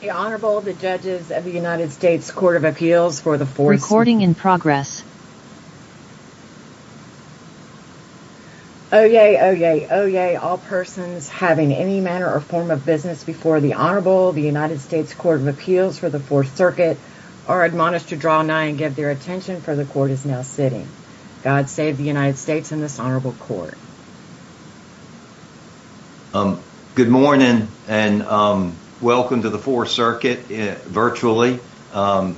Oyez, oyez, oyez, all persons having any manner or form of business before the Honorable United States Court of Appeals for the Fourth Circuit are admonished to draw nigh and give their attention for the Court is now sitting. God save the United States and this Honorable Court. Good morning and welcome to the Fourth Circuit virtually.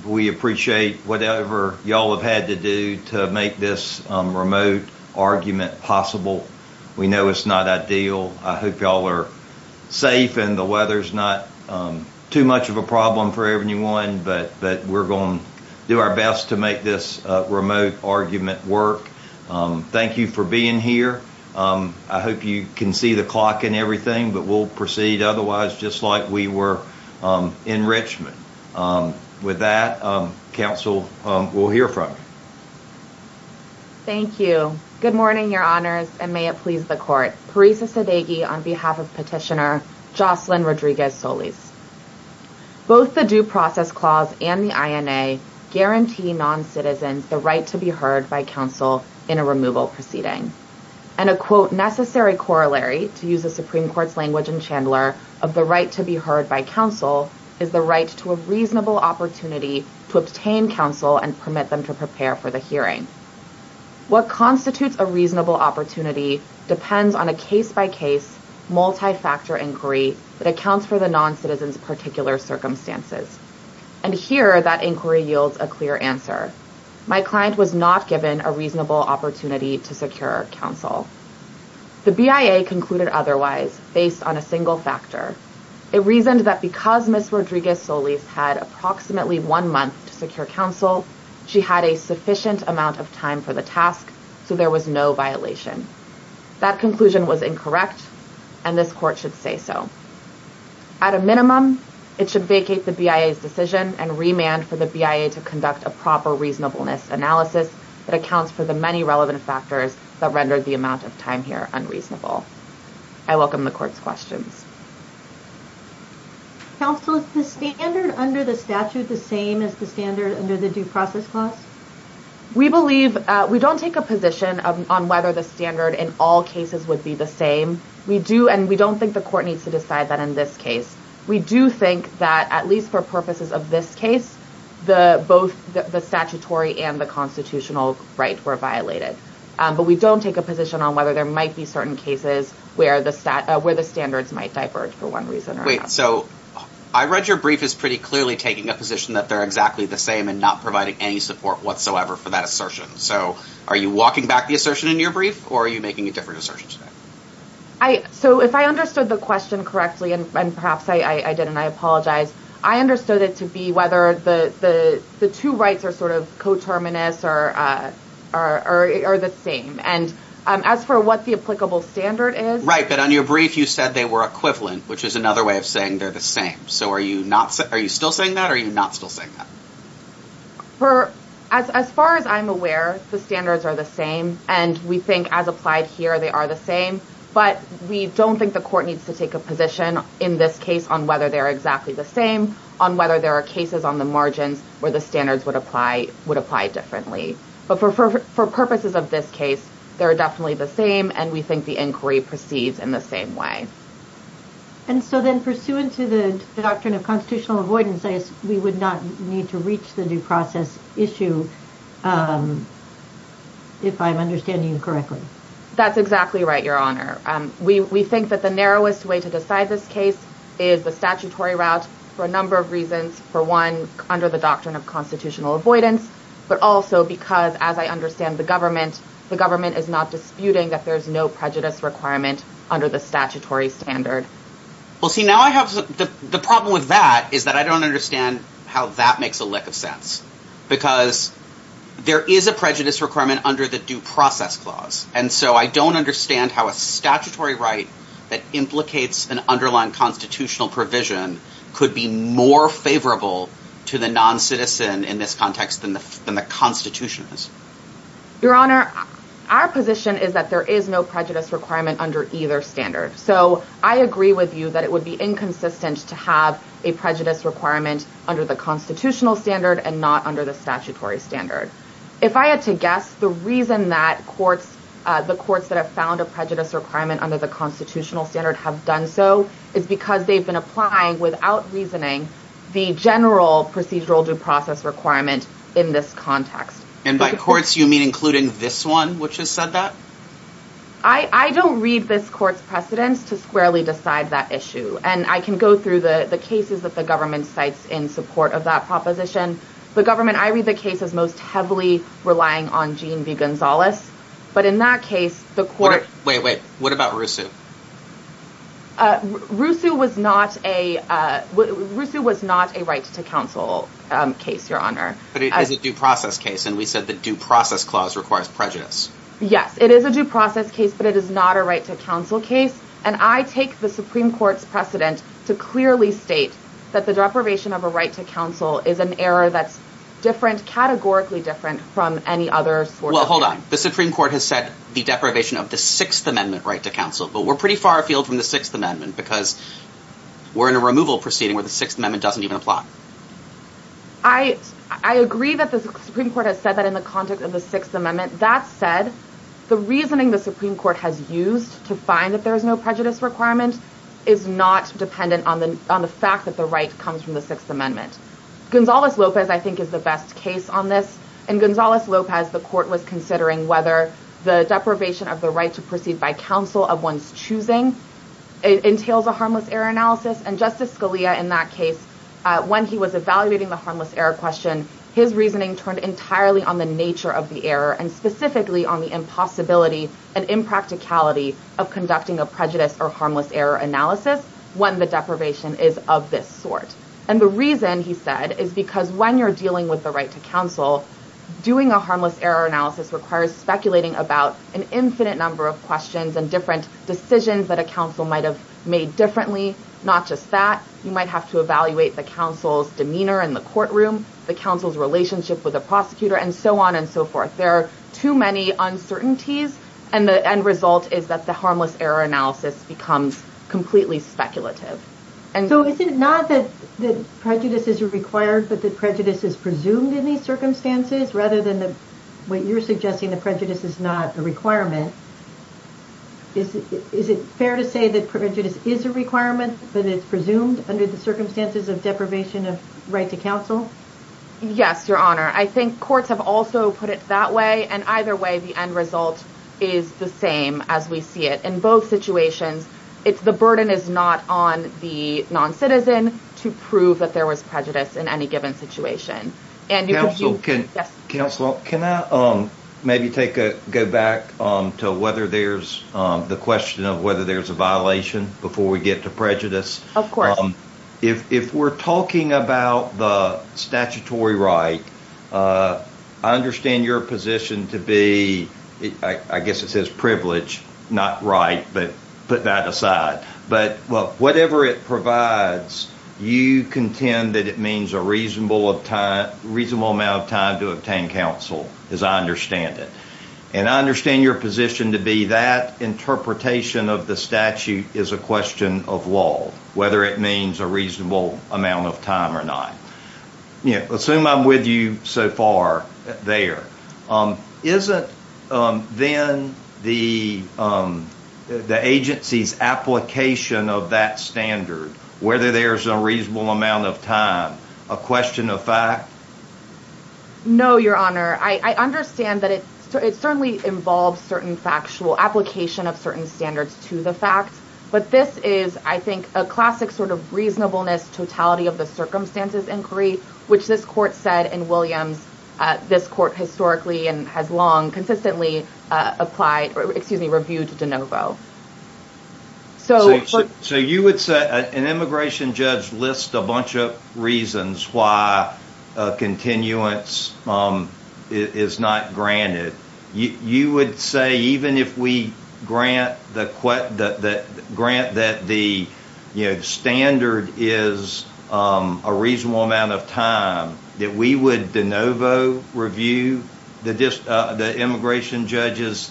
We appreciate whatever y'all have had to do to make this remote argument possible. We know it's not ideal. I hope y'all are safe and the weather's not too much of a problem for everyone, but we're going to do our best to make this remote argument work. Thank you for being here. I hope you can see the clock and everything, but we'll proceed otherwise, just like we were in Richmond. With that, counsel will hear from you. Thank you. Good morning, Your Honors, and may it please the Court. Parisa Sadeghi on behalf of Petitioner Josselyn Rodriguez-Solis. Both the Due Process Clause and the INA guarantee non-citizens the right to be heard by counsel in a removal proceeding, and a, quote, necessary corollary, to use the Supreme Court's language in Chandler, of the right to be heard by counsel is the right to a reasonable opportunity to obtain counsel and permit them to prepare for the hearing. What constitutes a reasonable opportunity depends on a case-by-case, multi-factor inquiry that accounts for the non-citizen's particular circumstances. And here, that inquiry yields a clear answer. My client was not given a reasonable opportunity to secure counsel. The BIA concluded otherwise, based on a single factor. It reasoned that because Ms. Rodriguez-Solis had approximately one month to secure counsel, she had a sufficient amount of time for the task, so there was no violation. That conclusion was incorrect, and this Court should say so. At a minimum, it should vacate the BIA's decision and remand for the BIA to conduct a proper reasonableness analysis that accounts for the many relevant factors that rendered the amount of time here unreasonable. I welcome the Court's questions. Counsel, is the standard under the statute the same as the standard under the Due Process Clause? We believe, we don't take a position on whether the standard in all cases would be the same. We do, and we don't think the Court needs to decide that in this case. We do think that, at least for purposes of this case, both the statutory and the constitutional right were violated. But we don't take a position on whether there might be certain cases where the standards might diverge, for one reason or another. Wait, so, I read your brief as pretty clearly taking a position that they're exactly the same and not providing any support whatsoever for that assertion. So, are you walking back the assertion in your brief, or are you making a different assertion today? So, if I understood the question correctly, and perhaps I did and I apologize, I understood it to be whether the two rights are sort of coterminous or the same. And as for what the applicable standard is... Right, but on your brief, you said they were equivalent, which is another way of saying they're the same. So, are you still saying that, or are you not still saying that? As far as I'm aware, the standards are the same, and we think as applied here, they are the same. But we don't think the Court needs to take a position in this case on whether they're exactly the same, on whether there are cases on the margins where the standards would apply differently. But for purposes of this case, they're definitely the same, and we think the inquiry proceeds in the same way. And so then, pursuant to the doctrine of constitutional avoidance, we would not need to reach the due process issue, if I'm understanding you correctly? That's exactly right, Your Honor. We think that the narrowest way to decide this case is the statutory route, for a number of reasons. For one, under the doctrine of constitutional avoidance, but also because, as I understand the government, the government is not disputing that there's no prejudice requirement under the statutory standard. Well, see, now I have the problem with that, is that I don't understand how that makes a lick of sense, because there is a prejudice requirement under the due process clause, and so I don't understand how a statutory right that implicates an underlying constitutional provision could be more favorable to the non-citizen in this context than the Constitution is. Your Honor, our position is that there is no prejudice requirement under either standard, so I agree with you that it would be inconsistent to have a prejudice requirement under the constitutional standard and not under the statutory standard. If I had to guess, the reason that the courts that have found a prejudice requirement under the constitutional standard have done so is because they've been applying, without reasoning, the general procedural due process requirement in this context. And by courts, you mean including this one, which has said that? I don't read this court's precedents to squarely decide that issue, and I can go through the cases that the government cites in support of that proposition. The government, I read the case as most heavily relying on Gene V. Gonzalez, but in that case, the court- Wait, wait. What about Rousseau? Rousseau was not a right to counsel case, Your Honor. But it is a due process case, and we said the due process clause requires prejudice. Yes, it is a due process case, but it is not a right to counsel case, and I take the Supreme Court's precedent to clearly state that the deprivation of a right to counsel is an error that's different, categorically different, from any other sort of- Well, hold on. The Supreme Court has said the deprivation of the Sixth Amendment right to counsel, but we're pretty far afield from the Sixth Amendment because we're in a removal proceeding where the Sixth Amendment doesn't even apply. I agree that the Supreme Court has said that in the context of the Sixth Amendment. That said, the reasoning the Supreme Court has used to find that there is no prejudice requirement is not dependent on the fact that the right comes from the Sixth Amendment. Gonzalez-Lopez, I think, is the best case on this. In Gonzalez-Lopez, the court was considering whether the deprivation of the right to proceed by counsel of one's choosing entails a harmless error analysis, and Justice Scalia in that case, when he was evaluating the harmless error question, his reasoning turned entirely on the nature of the error, and specifically on the impossibility and impracticality of conducting a prejudice or harmless error analysis when the deprivation is of this sort. And the reason, he said, is because when you're dealing with the right to counsel, doing a harmless error analysis requires speculating about an infinite number of questions and different decisions that a counsel might have made differently. Not just that. You might have to evaluate the counsel's demeanor in the courtroom, the counsel's relationship with the prosecutor, and so on and so forth. There are too many uncertainties, and the end result is that the harmless error analysis becomes completely speculative. And so, is it not that prejudice is required, but that prejudice is presumed in these circumstances rather than what you're suggesting, that prejudice is not a requirement? Is it fair to say that prejudice is a requirement, but it's presumed under the circumstances of deprivation of right to counsel? Yes, Your Honor. I think courts have also put it that way, and either way, the end result is the same as we see it. In both situations, it's the burden is not on the non-citizen to prove that there was prejudice in any given situation. Counsel, can I maybe go back to the question of whether there's a violation before we get to prejudice? If we're talking about the statutory right, I understand your position to be, I guess it says privilege, not right, but put that aside. But whatever it provides, you contend that it means a reasonable amount of time to obtain counsel, as I understand it. And I understand your position to be that interpretation of the statute is a question of law, whether it means a reasonable amount of time or not. Assume I'm with you so far there, isn't then the agency's application of that standard, whether there's a reasonable amount of time, a question of fact? No, Your Honor. I understand that it certainly involves certain factual application of certain standards to the fact, but this is, I think, a classic sort of reasonableness totality of the circumstances inquiry, which this court said in Williams, this court historically and has long consistently applied, excuse me, reviewed DeNovo. So you would say an immigration judge lists a bunch of reasons why a continuance is not granted. You would say even if we grant that the standard is a reasonable amount of time, that we would DeNovo review the immigration judge's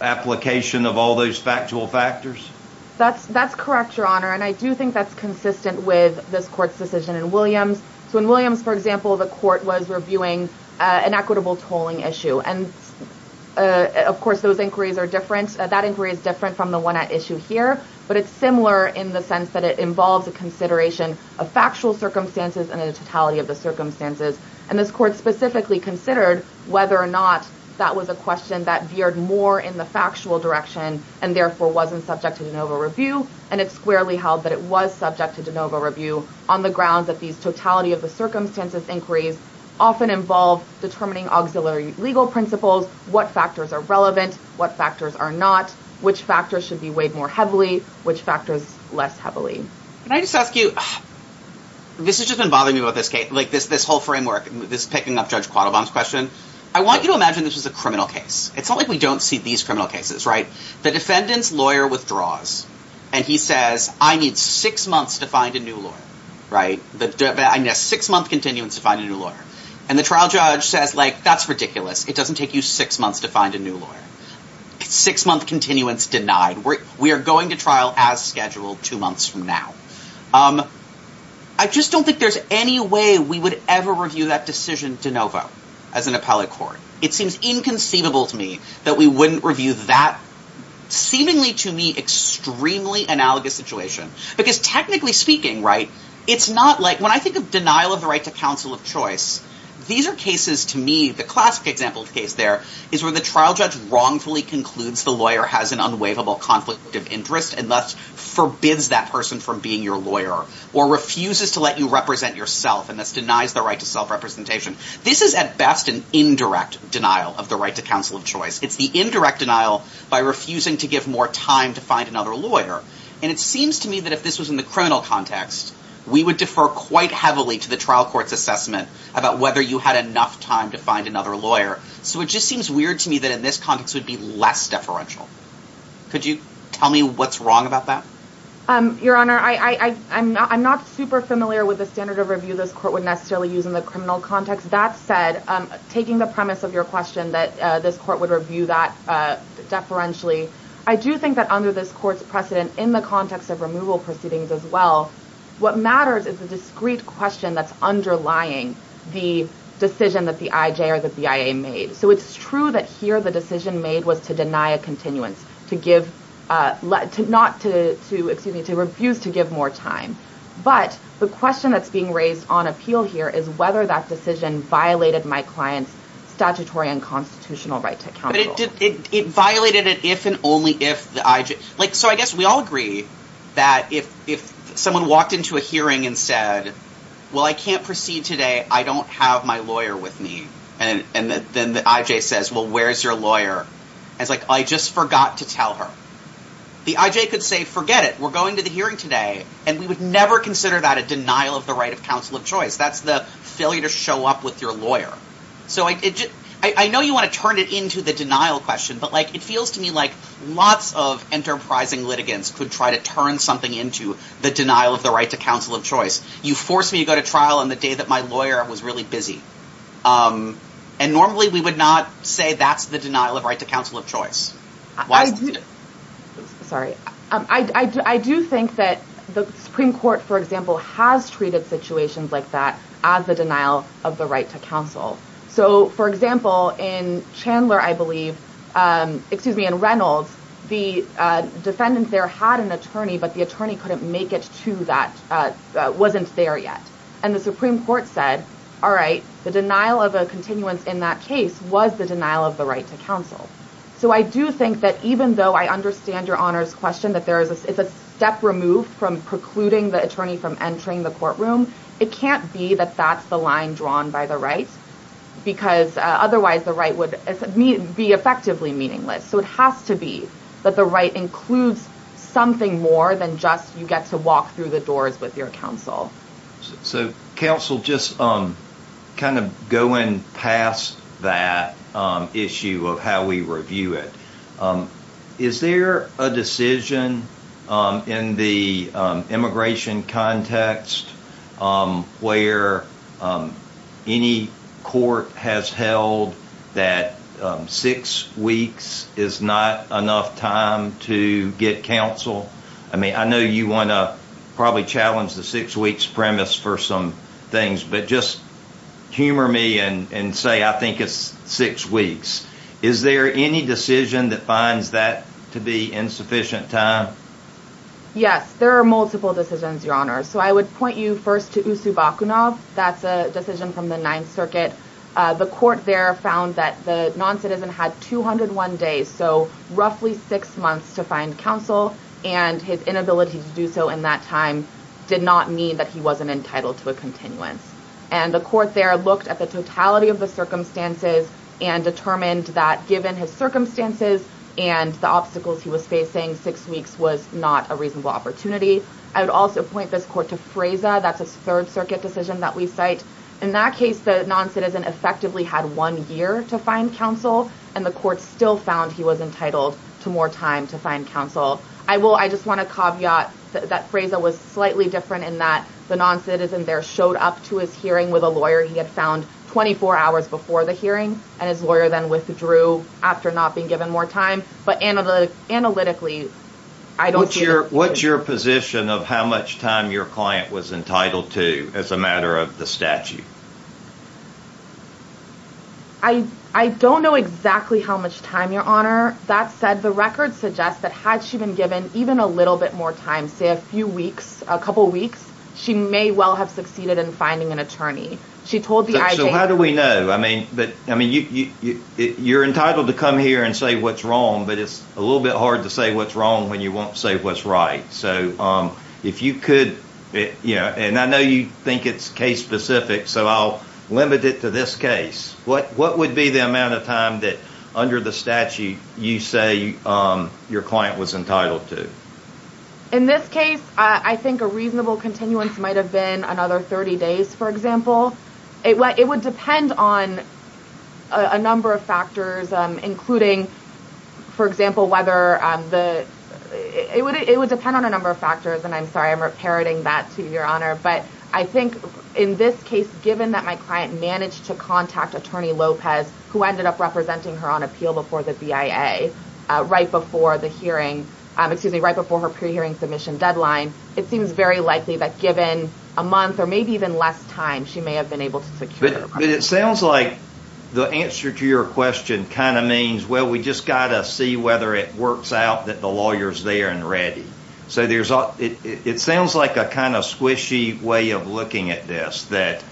application of all those factual factors? That's correct, Your Honor, and I do think that's consistent with this court's decision in Williams. So in Williams, for example, the court was reviewing an equitable tolling issue, and of course those inquiries are different. That inquiry is different from the one at issue here, but it's similar in the sense that it involves a consideration of factual circumstances and a totality of the circumstances, and this court specifically considered whether or not that was a question that veered more in the factual direction and therefore wasn't subject to DeNovo review, and it squarely that it was subject to DeNovo review on the grounds that these totality of the circumstances inquiries often involve determining auxiliary legal principles, what factors are relevant, what factors are not, which factors should be weighed more heavily, which factors less heavily. Can I just ask you, this has just been bothering me about this whole framework, this picking up Judge Quattlebaum's question. I want you to imagine this was a criminal case. It's not like we don't see these criminal cases, right? The defendant's lawyer withdraws, and he says, I need six months to find a new lawyer, right? I need a six-month continuance to find a new lawyer, and the trial judge says, that's ridiculous. It doesn't take you six months to find a new lawyer. Six-month continuance denied. We are going to trial as scheduled two months from now. I just don't think there's any way we would ever review that decision DeNovo as an appellate court. It seems inconceivable to me that we wouldn't review that seemingly to me extremely analogous situation. Because technically speaking, right, it's not like, when I think of denial of the right to counsel of choice, these are cases to me, the classic example case there is where the trial judge wrongfully concludes the lawyer has an unwaivable conflict of interest and thus forbids that person from being your lawyer or refuses to let you represent yourself and thus denies the right to self-representation. This is at best an indirect denial of the right to counsel of choice. It's the indirect denial by refusing to give more time to find another lawyer. And it seems to me that if this was in the criminal context, we would defer quite heavily to the trial court's assessment about whether you had enough time to find another lawyer. So it just seems weird to me that in this context would be less deferential. Could you tell me what's wrong about that? Your Honor, I'm not super familiar with the standard of review this court would necessarily use in the criminal context. That said, taking the premise of your question that this court would review that deferentially, I do think that under this court's precedent in the context of removal proceedings as well, what matters is the discreet question that's underlying the decision that the IJ or that the IA made. So it's true that here the decision made was to deny a continuance, to refuse to give more time. But the question that's being raised on appeal here is whether that decision violated my client's statutory and constitutional right to counsel. It violated it if and only if the IJ... So I guess we all agree that if someone walked into a hearing and said, well, I can't proceed today. I don't have my lawyer with me. And then the IJ says, well, where's your lawyer? And it's like, I just forgot to tell her. The IJ could say, forget it. We're going to the hearing today. And we would never consider that a denial of the right of counsel of choice. That's the failure to show up with your lawyer. So I know you want to turn it into the denial question, but it feels to me like lots of enterprising litigants could try to turn something into the denial of the right to counsel of choice. You forced me to go to trial on the day that my lawyer was really busy. And normally we would not say that's the denial of right to counsel of choice. Why is it... Sorry. I do think that the Supreme Court, for example, has treated situations like that as the denial of the right to counsel. So for example, in Chandler, I believe, excuse me, in Reynolds, the defendant there had an attorney, but the attorney couldn't make it to that, wasn't there yet. And the Supreme Court said, all right, the denial of a continuance in that case was the denial of the right to counsel. So I do think that even though I understand your honors question, that it's a step removed from precluding the attorney from entering the courtroom, it can't be that that's the line drawn by the right, because otherwise the right would be effectively meaningless. So it has to be that the right includes something more than just you get to walk through the doors with your counsel. So counsel, just kind of going past that issue of how we review it, is there a decision in the immigration context where any court has held that six weeks is not enough time to get counsel? I mean, I know you want to probably challenge the six weeks premise for some things, but just humor me and say, I think it's six weeks. Is there any decision that finds that to be insufficient time? Yes. There are multiple decisions, your honors. So I would point you first to Usubakunov. That's a decision from the Ninth Circuit. The court there found that the non-citizen had 201 days, so roughly six months to find counsel, and his inability to do so in that time did not mean that he wasn't entitled to a continuance. And the court there looked at the totality of the circumstances and determined that given his circumstances and the obstacles he was facing, six weeks was not a reasonable opportunity. I would also point this court to Fraza. That's a Third Circuit decision that we cite. In that case, the non-citizen effectively had one year to find counsel, and the court still found he was entitled to more time to find counsel. I just want to caveat that Fraza was slightly different in that the non-citizen there showed up to his hearing with a lawyer he had found 24 hours before the hearing, and his lawyer then withdrew after not being given more time. But analytically, I don't see that. What's your position of how much time your client was entitled to as a matter of the statute? I don't know exactly how much time, Your Honor. That said, the record suggests that had she been given even a little bit more time, say a few weeks, a couple weeks, she may well have succeeded in finding an attorney. So how do we know? I mean, you're entitled to come here and say what's wrong, but it's a little bit hard to say what's wrong when you won't say what's right. And I know you think it's case-specific, so I'll limit it to this case. What would be the amount of time that, under the statute, you say your client was entitled to? In this case, I think a reasonable continuance might have been another 30 days, for example. It would depend on a number of factors, including, for example, whether the... It would depend on a number of factors, and I'm sorry I'm parroting that to you, Your But I think in this case, given that my client managed to contact Attorney Lopez, who ended up representing her on appeal before the BIA, right before the hearing... Excuse me, right before her pre-hearing submission deadline, it seems very likely that given a month or maybe even less time, she may have been able to secure her claim. But it sounds like the answer to your question kind of means, well, we just got to see whether it works out that the lawyer's there and ready. So there's... It sounds like a kind of squishy way of looking at this, that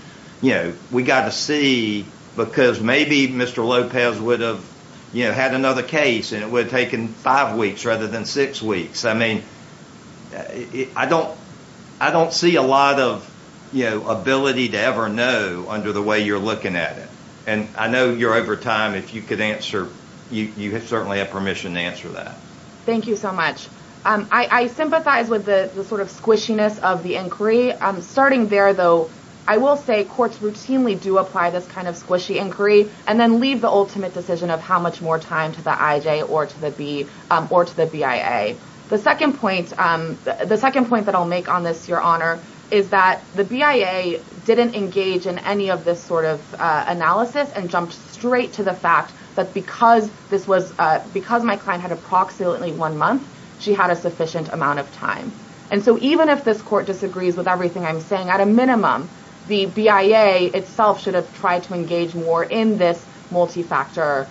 we got to see, because maybe Mr. Lopez would have had another case and it would have taken five weeks rather than six weeks. I mean, I don't see a lot of ability to ever know under the way you're looking at it. And I know you're over time. If you could answer, you certainly have permission to answer that. Thank you so much. I sympathize with the sort of squishiness of the inquiry. Starting there, though, I will say courts routinely do apply this kind of squishy inquiry and then leave the ultimate decision of how much more time to the IJ or to the BIA. The second point that I'll make on this, Your Honor, is that the BIA didn't engage in any of this sort of analysis and jumped straight to the fact that because my client had approximately one month, she had a sufficient amount of time. And so even if this court disagrees with everything I'm saying, at a minimum, the BIA itself should have tried to engage more in this multi-factor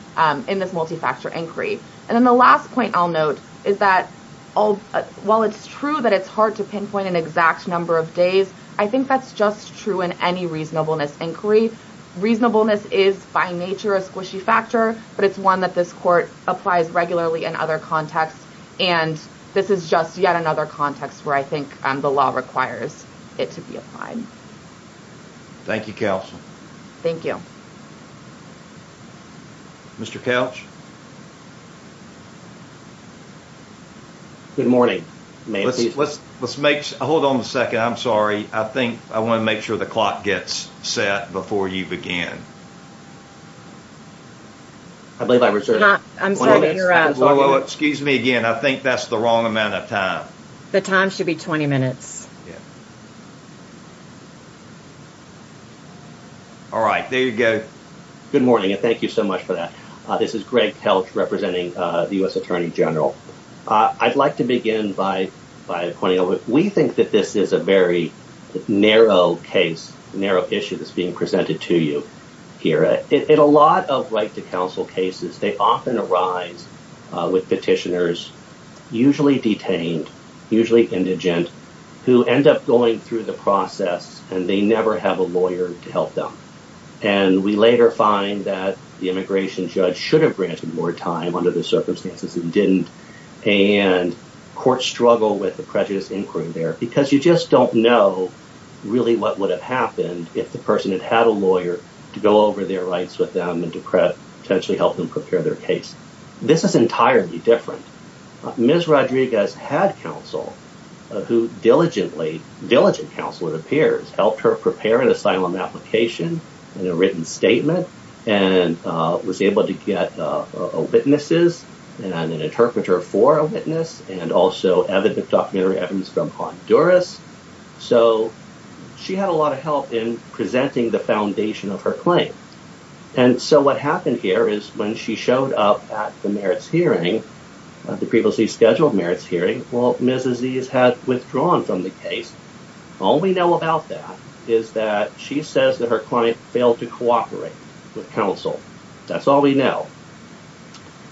inquiry. And then the last point I'll note is that while it's true that it's hard to pinpoint an exact number of days, I think that's just true in any reasonableness inquiry. Reasonableness is by nature a squishy factor, but it's one that this court applies regularly in other contexts. And this is just yet another context where I think the law requires it to be applied. Thank you, Counsel. Thank you. Mr. Couch? Good morning. Let's make – hold on a second. I'm sorry. I think I want to make sure the clock gets set before you begin. I believe I'm reserving. Excuse me again. I think that's the wrong amount of time. The time should be 20 minutes. All right. There you go. Good morning, and thank you so much for that. This is Greg Couch representing the U.S. Attorney General. I'd like to begin by pointing out that we think that this is a very narrow case, narrow issue that's being presented to you here. In a lot of right-to-counsel cases, they often arise with petitioners, usually detained, usually indigent, who end up going through the process, and they never have a lawyer to help them. And we later find that the immigration judge should have granted more time under the circumstances and didn't, and courts struggle with the prejudice inquiry there, because you just don't know really what would have happened if the person had had a lawyer to go over their rights with them and to potentially help them prepare their case. This is entirely different. Ms. Rodriguez had counsel who diligently, diligent counsel it appears, helped her prepare an asylum application and a written statement, and was able to get witnesses and an interpreter for a witness, and also evidence from Honduras. So she had a lot of help in presenting the foundation of her claim. And so what happened here is when she showed up at the merits hearing, the previously scheduled merits hearing, well, Ms. Aziz had withdrawn from the case. All we know about that is that she says that her client failed to cooperate with counsel. That's all we know.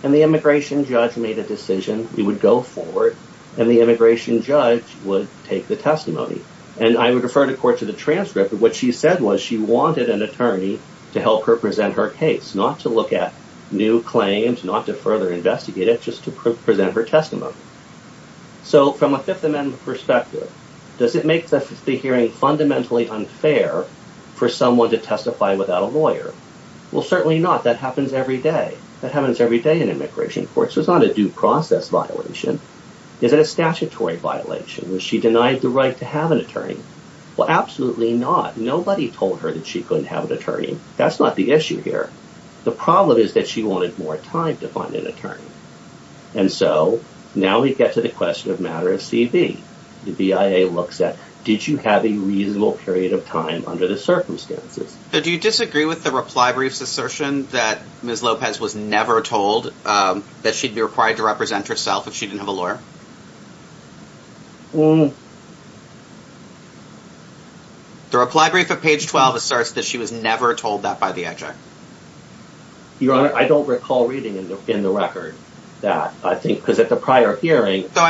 And the immigration judge made a decision. We would go forward, and the immigration judge would take the testimony. And I would refer the court to the transcript. What she said was she wanted an attorney to help her present her case, not to look at new claims, not to further investigate it, just to present her testimony. So from a Fifth Amendment perspective, does it make the hearing fundamentally unfair for someone to testify without a lawyer? Well, certainly not. That happens every day. That happens every day in immigration courts. It's not a due process violation. It's a statutory violation. Was she denied the right to have an attorney? Well, absolutely not. Nobody told her that she couldn't have an attorney. That's not the issue here. The problem is that she wanted more time to find an attorney. And so now we get to the question of matter of CB. The BIA looks at, did you have a reasonable period of time under the circumstances? So do you disagree with the reply brief's assertion that Ms. Lopez was never told that she'd be required to represent herself if she didn't have a lawyer? Mm. The reply brief at page 12 asserts that she was never told that by the exec. Your Honor, I don't recall reading in the record that. I think because at the prior hearing... So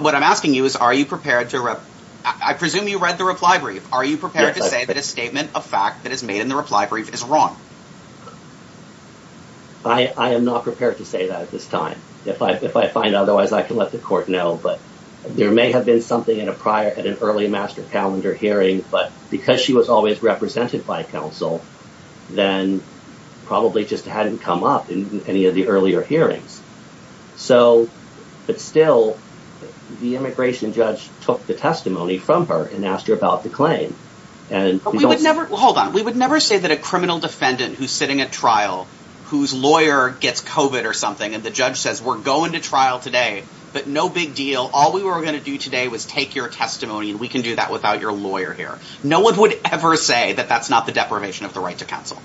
what I'm asking you is, are you prepared to... I presume you read the reply brief. Are you prepared to say that a statement of fact that is made in the reply brief is wrong? I am not prepared to say that at this time. If I find otherwise, I can let the court know. But there may have been something at an early master calendar hearing. But because she was always represented by counsel, then probably just hadn't come up in any of the earlier hearings. But still, the immigration judge took the testimony from her and asked her about the claim. Hold on. We would never say that a criminal defendant who's sitting at trial, whose lawyer gets COVID or something, and the judge says, we're going to trial today, but no big deal. All we were going to do today was take your testimony, and we can do that without your lawyer here. No one would ever say that that's not the deprivation of the right to counsel.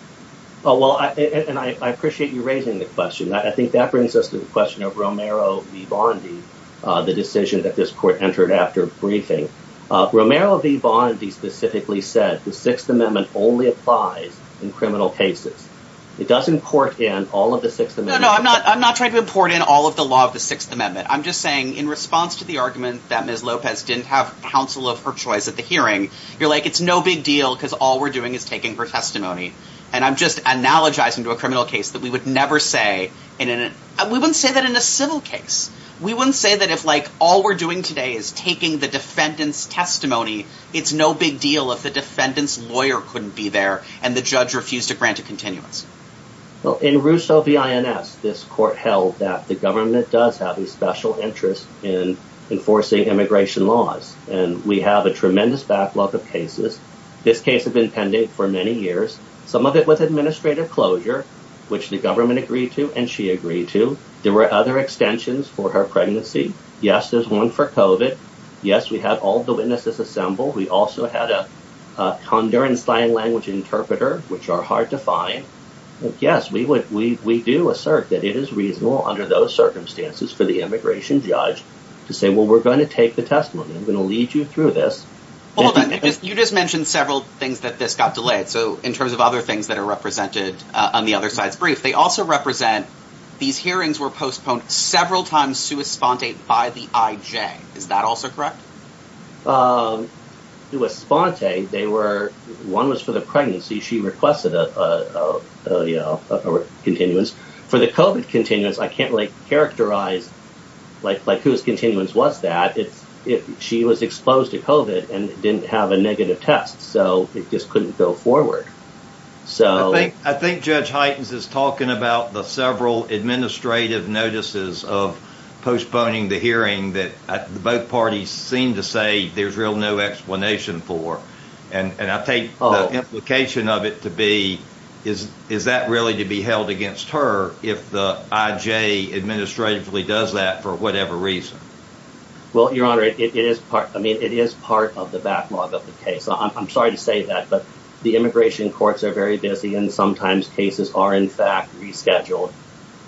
Well, and I appreciate you raising the question. I think that brings us to the question of Romero v. Bondi, the decision that this court entered after briefing. Romero v. Bondi specifically said the Sixth Amendment only applies in criminal cases. It doesn't court in all of the Sixth Amendment... No, no, no. I'm not trying to import in all of the law of the Sixth Amendment. I'm just saying, in response to the argument that Ms. Lopez didn't have counsel of her choice at the hearing, you're like, it's no big deal because all we're doing is taking her testimony. And I'm just analogizing to a criminal case that we would never say... We wouldn't say that in a civil case. We wouldn't say that if all we're doing today is taking the defendant's testimony, it's no big deal if the defendant's lawyer couldn't be there, and the judge refused to grant a continuance. Well, in Russo v. INS, this court held that the government does have a special interest in enforcing immigration laws. And we have a tremendous backlog of cases. This case has been pending for many years, some of it with administrative closure, which the government agreed to and she agreed to. There were other extensions for her pregnancy. Yes, there's one for COVID. Yes, we have all the witnesses assembled. We also had a Honduran sign language interpreter, which are hard to find. Yes, we do assert that it is reasonable under those circumstances for the immigration judge to say, well, we're going to take the testimony. I'm going to lead you through this. Hold on, you just mentioned several things that this got delayed. So in terms of other things that are represented on the other side's brief, they also represent these hearings were postponed several times sui sponte by the IJ. Is that also correct? It was sponte. They were one was for the pregnancy. She requested a continuance for the COVID continuance. I can't really characterize like like whose continuance was that. It's if she was exposed to COVID and didn't have a negative test. So it just couldn't go forward. So I think Judge Heitens is talking about the several administrative notices of postponing the hearing that both parties seem to say there's real no explanation for. And I think the implication of it to be is, is that really to be held against her? If the IJ administratively does that for whatever reason? Well, Your Honor, it is part. I mean, it is part of the backlog of the case. I'm sorry to say that, but the immigration courts are very busy and sometimes cases are, in fact, rescheduled.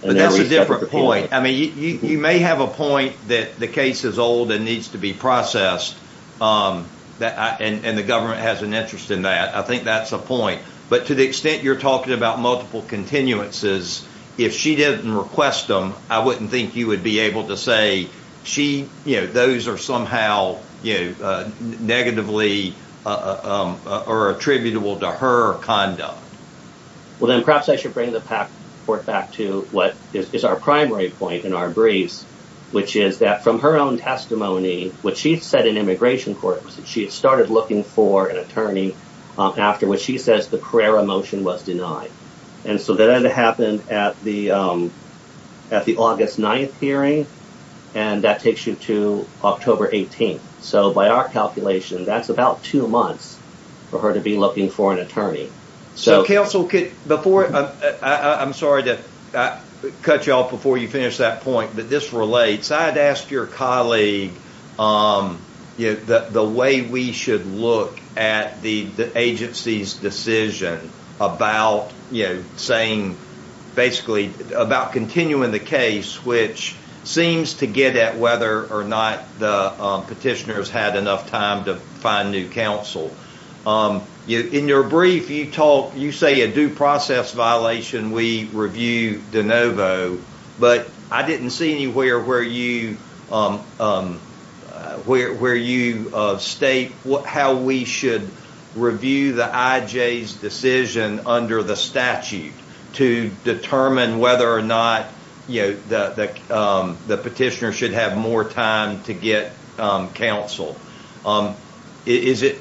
And that's a different point. I mean, you may have a point that the case is old and needs to be processed and the government has an interest in that. I think that's a point. But to the extent you're talking about multiple continuances, if she didn't request them, I wouldn't think you would be able to say she. Those are somehow negatively or attributable to her conduct. Well, then perhaps I should bring the court back to what is our primary point in our briefs, which is that from her own testimony, what she said in immigration court was that she had started looking for an attorney after what she says the Carrera motion was denied. And so that happened at the August 9th hearing. And that takes you to October 18th. So by our calculation, that's about two months for her to be looking for an attorney. So counsel, before I'm sorry to cut you off before you finish that point, but this relates. I had asked your colleague the way we should look at the agency's decision about saying basically about continuing the case, which seems to get at whether or not the petitioners had enough time to find new counsel. In your brief, you talk you say a due process violation. We review de novo, but I didn't see anywhere where you where you state how we should review the IJ's decision under the statute to determine whether or not, you know, that the petitioner should have more time to get counsel. Is it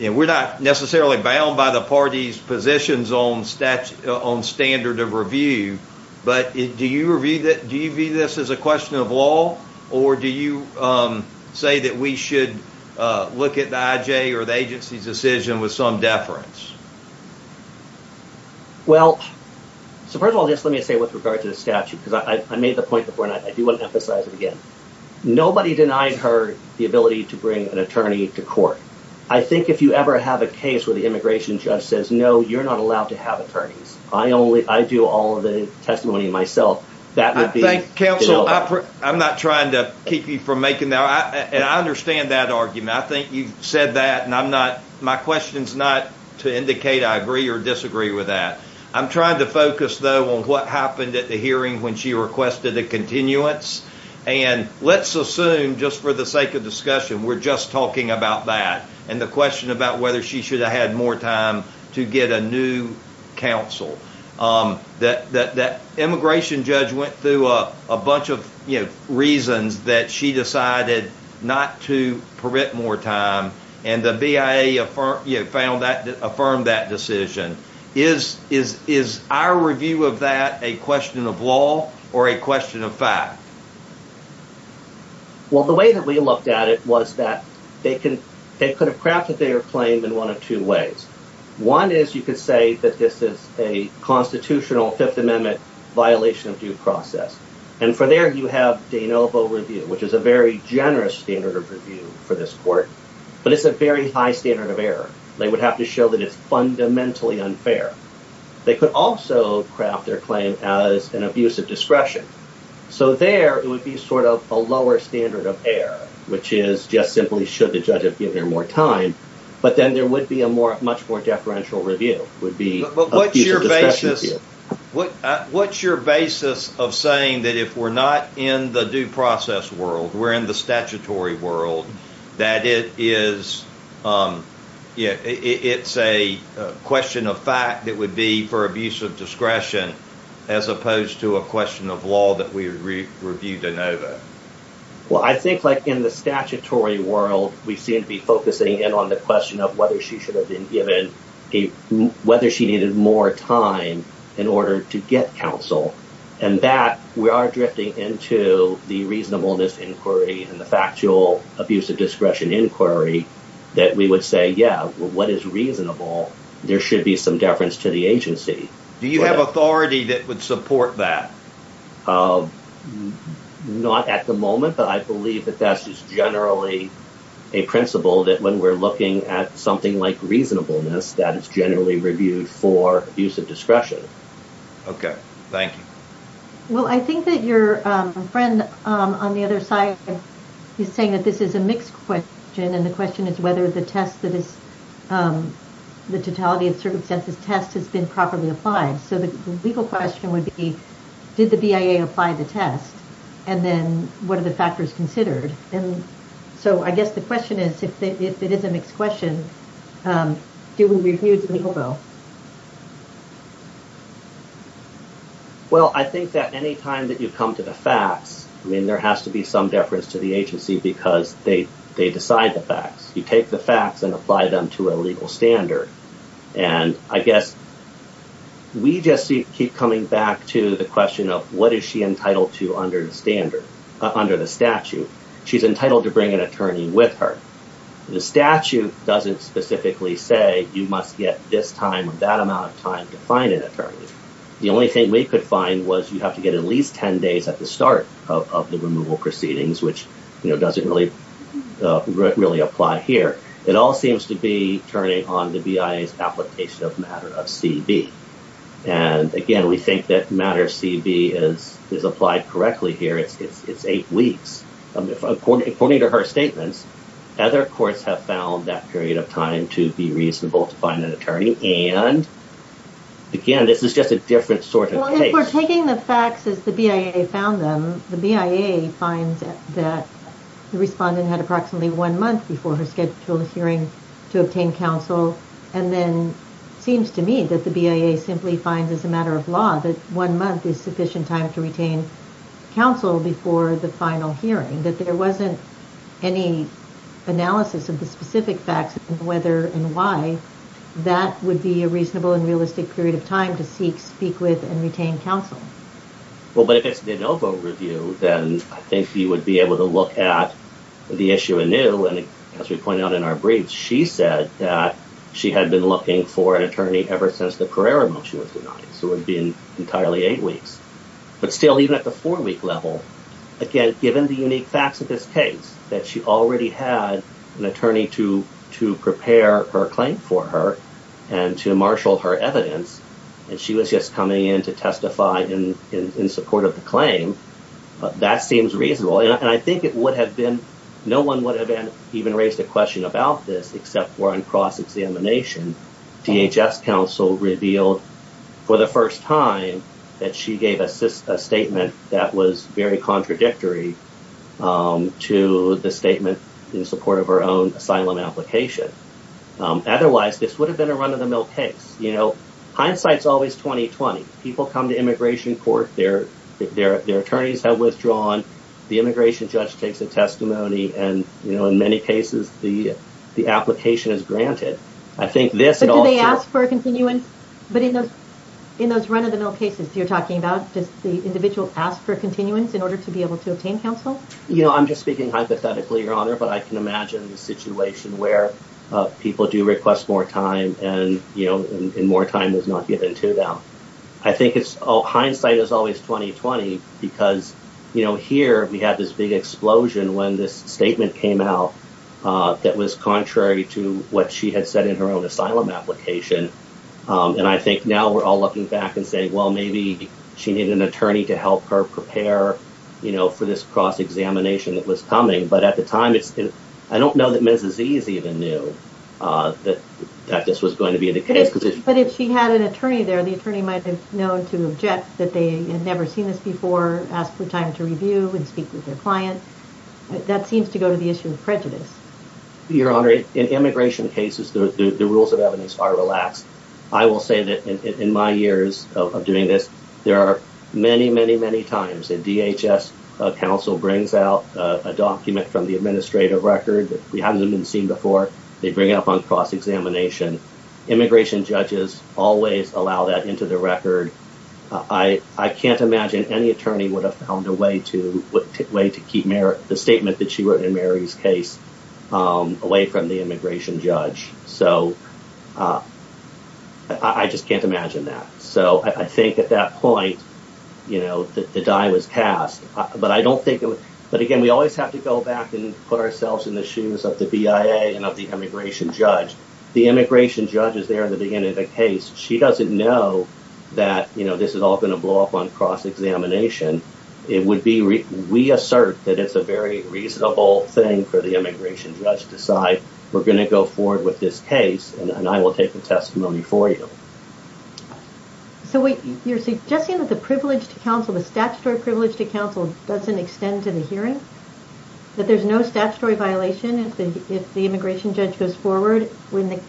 and we're not necessarily bound by the party's positions on stats on standard of review. But do you review that? Do you view this as a question of law or do you say that we should look at the IJ or the agency's decision with some deference? Well, so first of all, just let me say with regard to the statute, because I made the point before and I do want to emphasize it again. Nobody denied her the ability to bring an attorney to court. I think if you ever have a case where the immigration judge says, no, you're not allowed to have attorneys. I only I do all of the testimony myself. That would be counsel. I'm not trying to keep you from making that. And I understand that argument. I think you said that. And I'm not my questions not to indicate I agree or disagree with that. I'm trying to focus, though, on what happened at the hearing when she requested a continuance. And let's assume just for the sake of discussion, we're just talking about that. And the question about whether she should have had more time to get a new counsel that that immigration judge went through a bunch of reasons that she decided not to permit more time. And the BIA found that affirmed that decision is is is our review of that a question of law or a question of fact? Well, the way that we looked at it was that they can they could have crafted their claim in one of two ways. One is you could say that this is a constitutional Fifth Amendment violation of due process. And for there you have de novo review, which is a very generous standard of review for this court. But it's a very high standard of error. They would have to show that it's fundamentally unfair. They could also craft their claim as an abuse of discretion. So there it would be sort of a lower standard of error, which is just simply should the judge have given her more time. But then there would be a more much more deferential review would be. But what's your basis? What's your basis of saying that if we're not in the due process world, we're in the statutory world, that it is. Yeah, it's a question of fact that would be for abuse of discretion as opposed to a question of law that we review de novo. Well, I think like in the statutory world, we seem to be focusing in on the question of whether she should have been given a whether she needed more time in order to get counsel. And that we are drifting into the reasonableness inquiry and the factual abuse of discretion inquiry that we would say, yeah, well, what is reasonable? There should be some deference to the agency. Do you have authority that would support that? Not at the moment, but I believe that that's just generally a principle that when we're looking at something like reasonableness, that is generally reviewed for use of discretion. OK, thank you. Well, I think that your friend on the other side is saying that this is a mixed question. And the question is whether the test that is the totality of circumstances test has been properly applied. So the legal question would be, did the BIA apply the test? And then what are the factors considered? And so I guess the question is, if it is a mixed question, do we review the legal bill? Well, I think that any time that you come to the facts, I mean, there has to be some deference to the agency because they they decide the facts. You take the facts and apply them to a legal standard. And I guess we just keep coming back to the question of what is she entitled to under the standard under the statute? She's entitled to bring an attorney with her. The statute doesn't specifically say you must get this time of that amount of time to find an attorney. The only thing we could find was you have to get at least 10 days at the start of the removal proceedings, which doesn't really really apply here. It all seems to be turning on the BIA's application of matter of CB. And again, we think that matter CB is is applied correctly here. It's eight weeks. According to her statements, other courts have found that period of time to be reasonable to find an attorney. And again, this is just a different sort of taking the facts as the BIA found them. The BIA finds that the respondent had approximately one month before her scheduled hearing to obtain counsel. And then seems to me that the BIA simply finds as a matter of law that one month is sufficient time to retain counsel before the final hearing, that there wasn't any analysis of the specific facts, whether and why that would be a reasonable and realistic period of time to seek, speak with and retain counsel. Well, but if it's the NoVo review, then I think you would be able to look at the issue anew. And as we pointed out in our briefs, she said that she had been looking for an attorney ever since the Carrera motion was denied. So it would be entirely eight weeks. But still, even at the four week level, again, given the unique facts of this case, that she already had an attorney to to prepare her claim for her and to marshal her evidence. And she was just coming in to testify in support of the claim. But that seems reasonable. And I think it would have been no one would have even raised a question about this except for on cross examination. DHS counsel revealed for the first time that she gave a statement that was very contradictory to the statement in support of her own asylum application. Otherwise, this would have been a run of the mill case. You know, hindsight's always 20 20. People come to immigration court. Their their their attorneys have withdrawn. The immigration judge takes a testimony. And, you know, in many cases, the the application is granted. I think this is all they ask for a continuance. But in those in those run of the mill cases you're talking about, does the individual ask for continuance in order to be able to obtain counsel? You know, I'm just speaking hypothetically, Your Honor, but I can imagine the situation where people do request more time and, you know, more time is not given to them. I think it's all hindsight is always 20 20, because, you know, here we have this big explosion when this statement came out that was contrary to what she had said in her own asylum application. And I think now we're all looking back and say, well, maybe she needed an attorney to help her prepare, you know, for this cross examination that was coming. But at the time, I don't know that Mrs. Z's even knew that this was going to be the case. But if she had an attorney there, the attorney might have known to object that they had never seen this before, ask for time to review and speak with their client. That seems to go to the issue of prejudice. Your Honor, in immigration cases, the rules of evidence are relaxed. I will say that in my years of doing this, there are many, many, many times a DHS counsel brings out a document from the administrative record. We haven't even seen before they bring up on cross examination. Immigration judges always allow that into the record. I can't imagine any attorney would have found a way to keep the statement that she wrote in Mary's case away from the immigration judge. So I just can't imagine that. So I think at that point, you know, the die was cast. But I don't think. But again, we always have to go back and put ourselves in the shoes of the BIA and of the immigration judge. The immigration judge is there in the beginning of the case. She doesn't know that, you know, this is all going to blow up on cross examination. It would be we assert that it's a very reasonable thing for the immigration judge to decide. We're going to go forward with this case and I will take the testimony for you. So you're suggesting that the privilege to counsel, the statutory privilege to counsel doesn't extend to the hearing, that there's no statutory violation. If the immigration judge goes forward when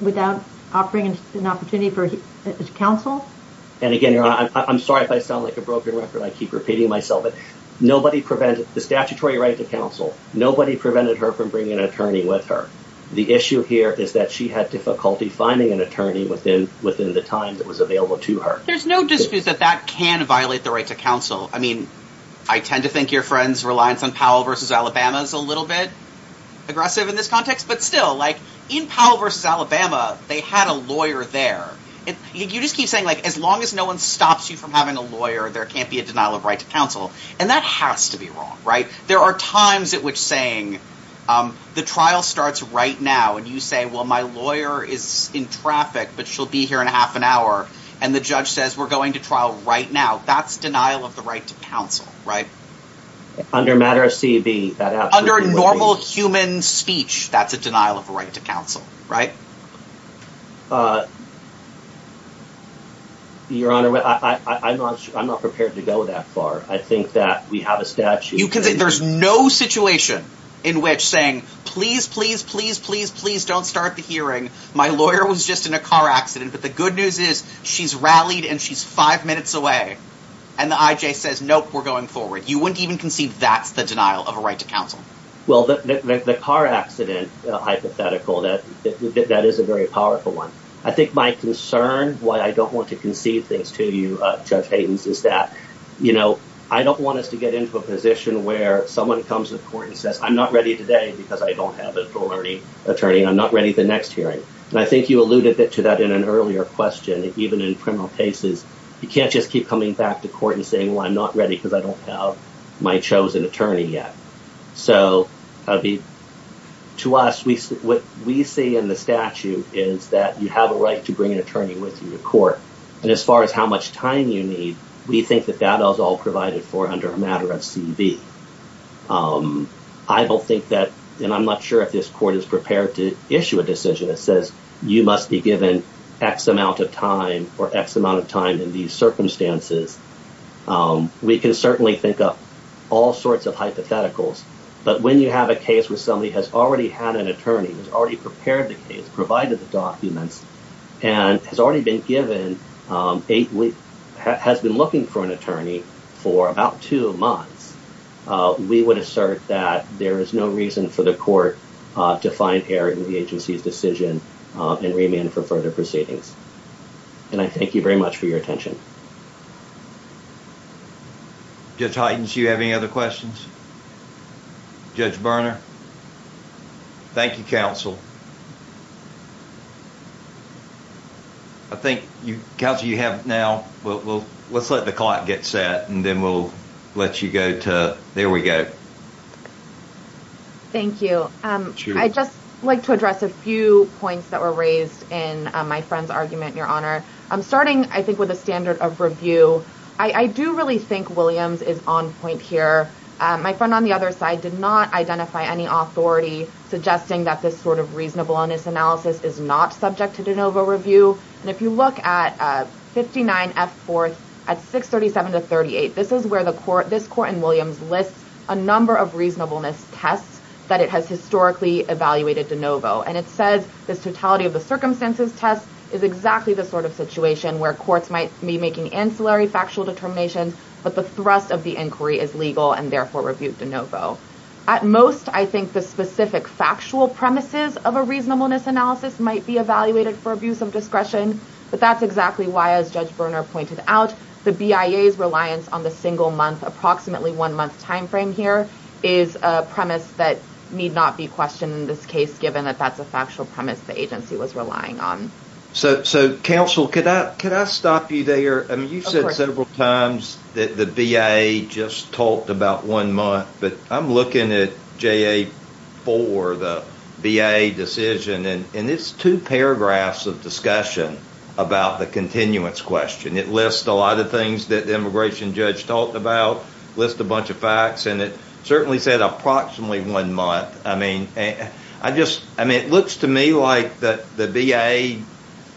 without offering an opportunity for counsel. And again, I'm sorry if I sound like a broken record, I keep repeating myself. But nobody prevented the statutory right to counsel. Nobody prevented her from bringing an attorney with her. The issue here is that she had difficulty finding an attorney within within the time that was available to her. There's no dispute that that can violate the right to counsel. I mean, I tend to think your friends reliance on Powell versus Alabama is a little bit aggressive in this context. But still, like in Powell versus Alabama, they had a lawyer there. And you just keep saying, like, as long as no one stops you from having a lawyer, there can't be a denial of right to counsel. And that has to be wrong. Right. There are times at which saying the trial starts right now and you say, well, my lawyer is in traffic, but she'll be here in half an hour. And the judge says we're going to trial right now. That's denial of the right to counsel. Right. Under matter of CB, under normal human speech, that's a denial of the right to counsel. Right. Your Honor, I'm not I'm not prepared to go that far. I think that we have a statute. You can say there's no situation in which saying please, please, please, please, please don't start the hearing. My lawyer was just in a car accident. But the good news is she's rallied and she's five minutes away. And the IJ says, nope, we're going forward. You wouldn't even conceive that's the denial of a right to counsel. Well, the car accident hypothetical that that is a very powerful one. I think my concern why I don't want to conceive things to you, Judge Hayden's, is that, you know, I don't want us to get into a position where someone comes to court and says, I'm not ready today because I don't have a full attorney. I'm not ready for the next hearing. And I think you alluded to that in an earlier question. Even in criminal cases, you can't just keep coming back to court and saying, well, I'm not ready because I don't have my chosen attorney yet. So to us, what we see in the statute is that you have a right to bring an attorney with you to court. And as far as how much time you need, we think that that is all provided for under a matter of CV. I don't think that and I'm not sure if this court is prepared to issue a decision that says you must be given X amount of time or X amount of time in these circumstances. We can certainly think of all sorts of hypotheticals. But when you have a case where somebody has already had an attorney, has already prepared the case, provided the documents, and has already been given a week, has been looking for an attorney for about two months, we would assert that there is no reason for the court to find error in the agency's decision and remand for further proceedings. And I thank you very much for your attention. Judge Hytens, do you have any other questions? Judge Berner? Thank you, counsel. I think, counsel, you have now, well, let's let the clock get set and then we'll let you go to, there we go. Thank you. I'd just like to address a few points that were raised in my friend's argument, Your Honor. Starting, I think, with the standard of review, I do really think Williams is on point here. My friend on the other side did not identify any authority suggesting that this sort of reasonableness analysis is not subject to de novo review. And if you look at 59F4 at 637-38, this is where this court in Williams lists a number of reasonableness tests that it has historically evaluated de novo. And it says this totality of the circumstances test is exactly the sort of situation where courts might be making ancillary factual determinations, but the thrust of the inquiry is legal and therefore reviewed de novo. At most, I think the specific factual premises of a reasonableness analysis might be evaluated for abuse of discretion. But that's exactly why, as Judge Berner pointed out, the BIA's reliance on the single month, approximately one month timeframe here, is a premise that need not be questioned in this case, given that that's a factual premise the agency was relying on. So, counsel, could I stop you there? You said several times that the BIA just talked about one month, but I'm looking at JA4, the BIA decision, and it's two paragraphs of discussion about the continuance question. It lists a lot of things that the immigration judge talked about, lists a bunch of facts, and it certainly said approximately one month. I mean, it looks to me like the BIA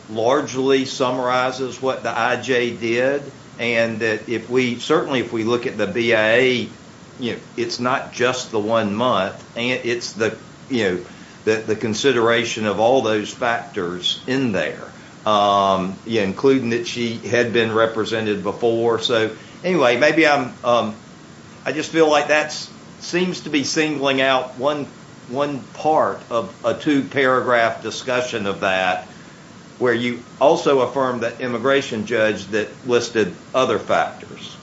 largely summarizes what the IJ did, and certainly if we look at the BIA, it's not just the one month. It's the consideration of all those factors in there, including that she had been represented before. So, anyway, I just feel like that seems to be singling out one part of a two-paragraph discussion of that where you also affirm that immigration judge that listed other factors.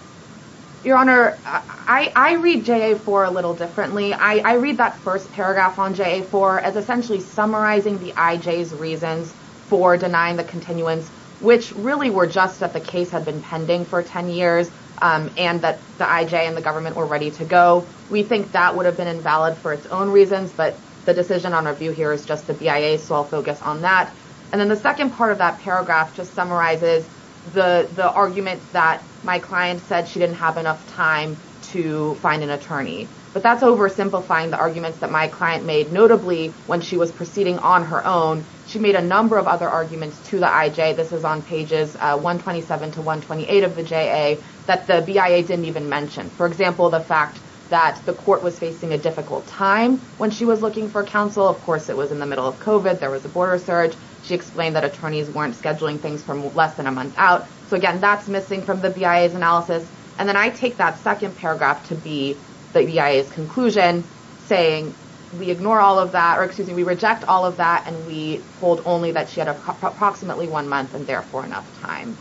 Your Honor, I read JA4 a little differently. I read that first paragraph on JA4 as essentially summarizing the IJ's reasons for denying the continuance, which really were just that the case had been pending for 10 years and that the IJ and the government were ready to go. We think that would have been invalid for its own reasons, but the decision on review here is just the BIA's, so I'll focus on that. And then the second part of that paragraph just summarizes the argument that my client said she didn't have enough time to find an attorney. But that's oversimplifying the arguments that my client made, notably when she was proceeding on her own. She made a number of other arguments to the IJ. This is on pages 127 to 128 of the JA that the BIA didn't even mention. For example, the fact that the court was facing a difficult time when she was looking for counsel. Of course, it was in the middle of COVID. There was a border surge. She explained that attorneys weren't scheduling things for less than a month out. So, again, that's missing from the BIA's analysis. And then I take that second paragraph to be the BIA's conclusion, saying we ignore all of that, or excuse me, we reject all of that. And we hold only that she had approximately one month and therefore enough time.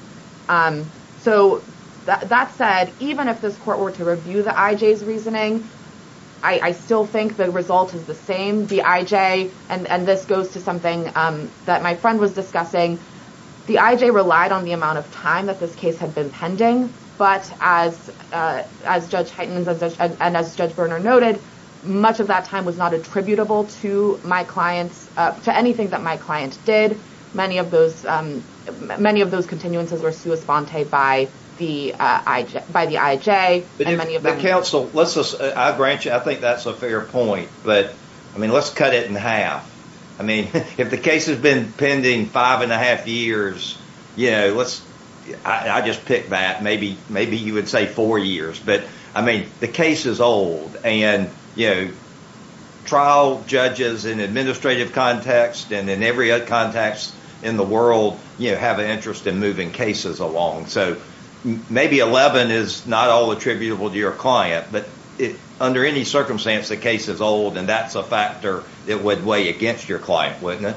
So that said, even if this court were to review the IJ's reasoning, I still think the result is the same. The IJ, and this goes to something that my friend was discussing, the IJ relied on the amount of time that this case had been pending. But as Judge Heitens and as Judge Berner noted, much of that time was not attributable to my clients, to anything that my client did. Many of those continuances were sua sponte by the IJ. The counsel, I grant you, I think that's a fair point. But, I mean, let's cut it in half. I mean, if the case has been pending five and a half years, you know, I just picked that. Maybe you would say four years. But, I mean, the case is old. And, you know, trial judges in administrative context and in every other context in the world have an interest in moving cases along. So maybe 11 is not all attributable to your client. But under any circumstance, the case is old, and that's a factor that would weigh against your client, wouldn't it?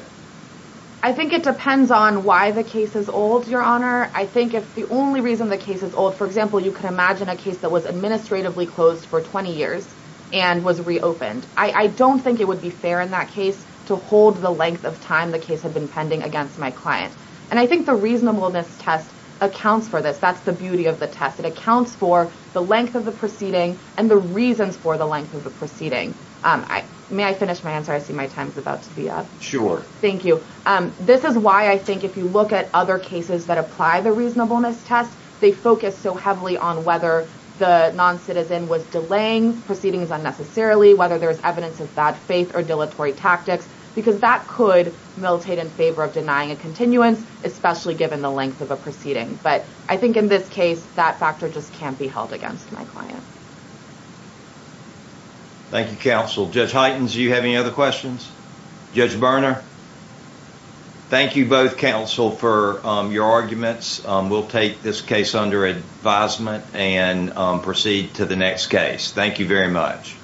I think it depends on why the case is old, Your Honor. I think if the only reason the case is old, for example, you can imagine a case that was administratively closed for 20 years and was reopened. I don't think it would be fair in that case to hold the length of time the case had been pending against my client. And I think the reasonableness test accounts for this. That's the beauty of the test. It accounts for the length of the proceeding and the reasons for the length of the proceeding. May I finish my answer? I see my time is about to be up. Thank you. This is why I think if you look at other cases that apply the reasonableness test, they focus so heavily on whether the noncitizen was delaying proceedings unnecessarily, whether there's evidence of bad faith or dilatory tactics, because that could militate in favor of denying a continuance, especially given the length of a proceeding. But I think in this case, that factor just can't be held against my client. Thank you, Counsel. Judge Heitens, do you have any other questions? Judge Berner? Thank you both, Counsel, for your arguments. We'll take this case under advisement and proceed to the next case. Thank you very much. Thank you.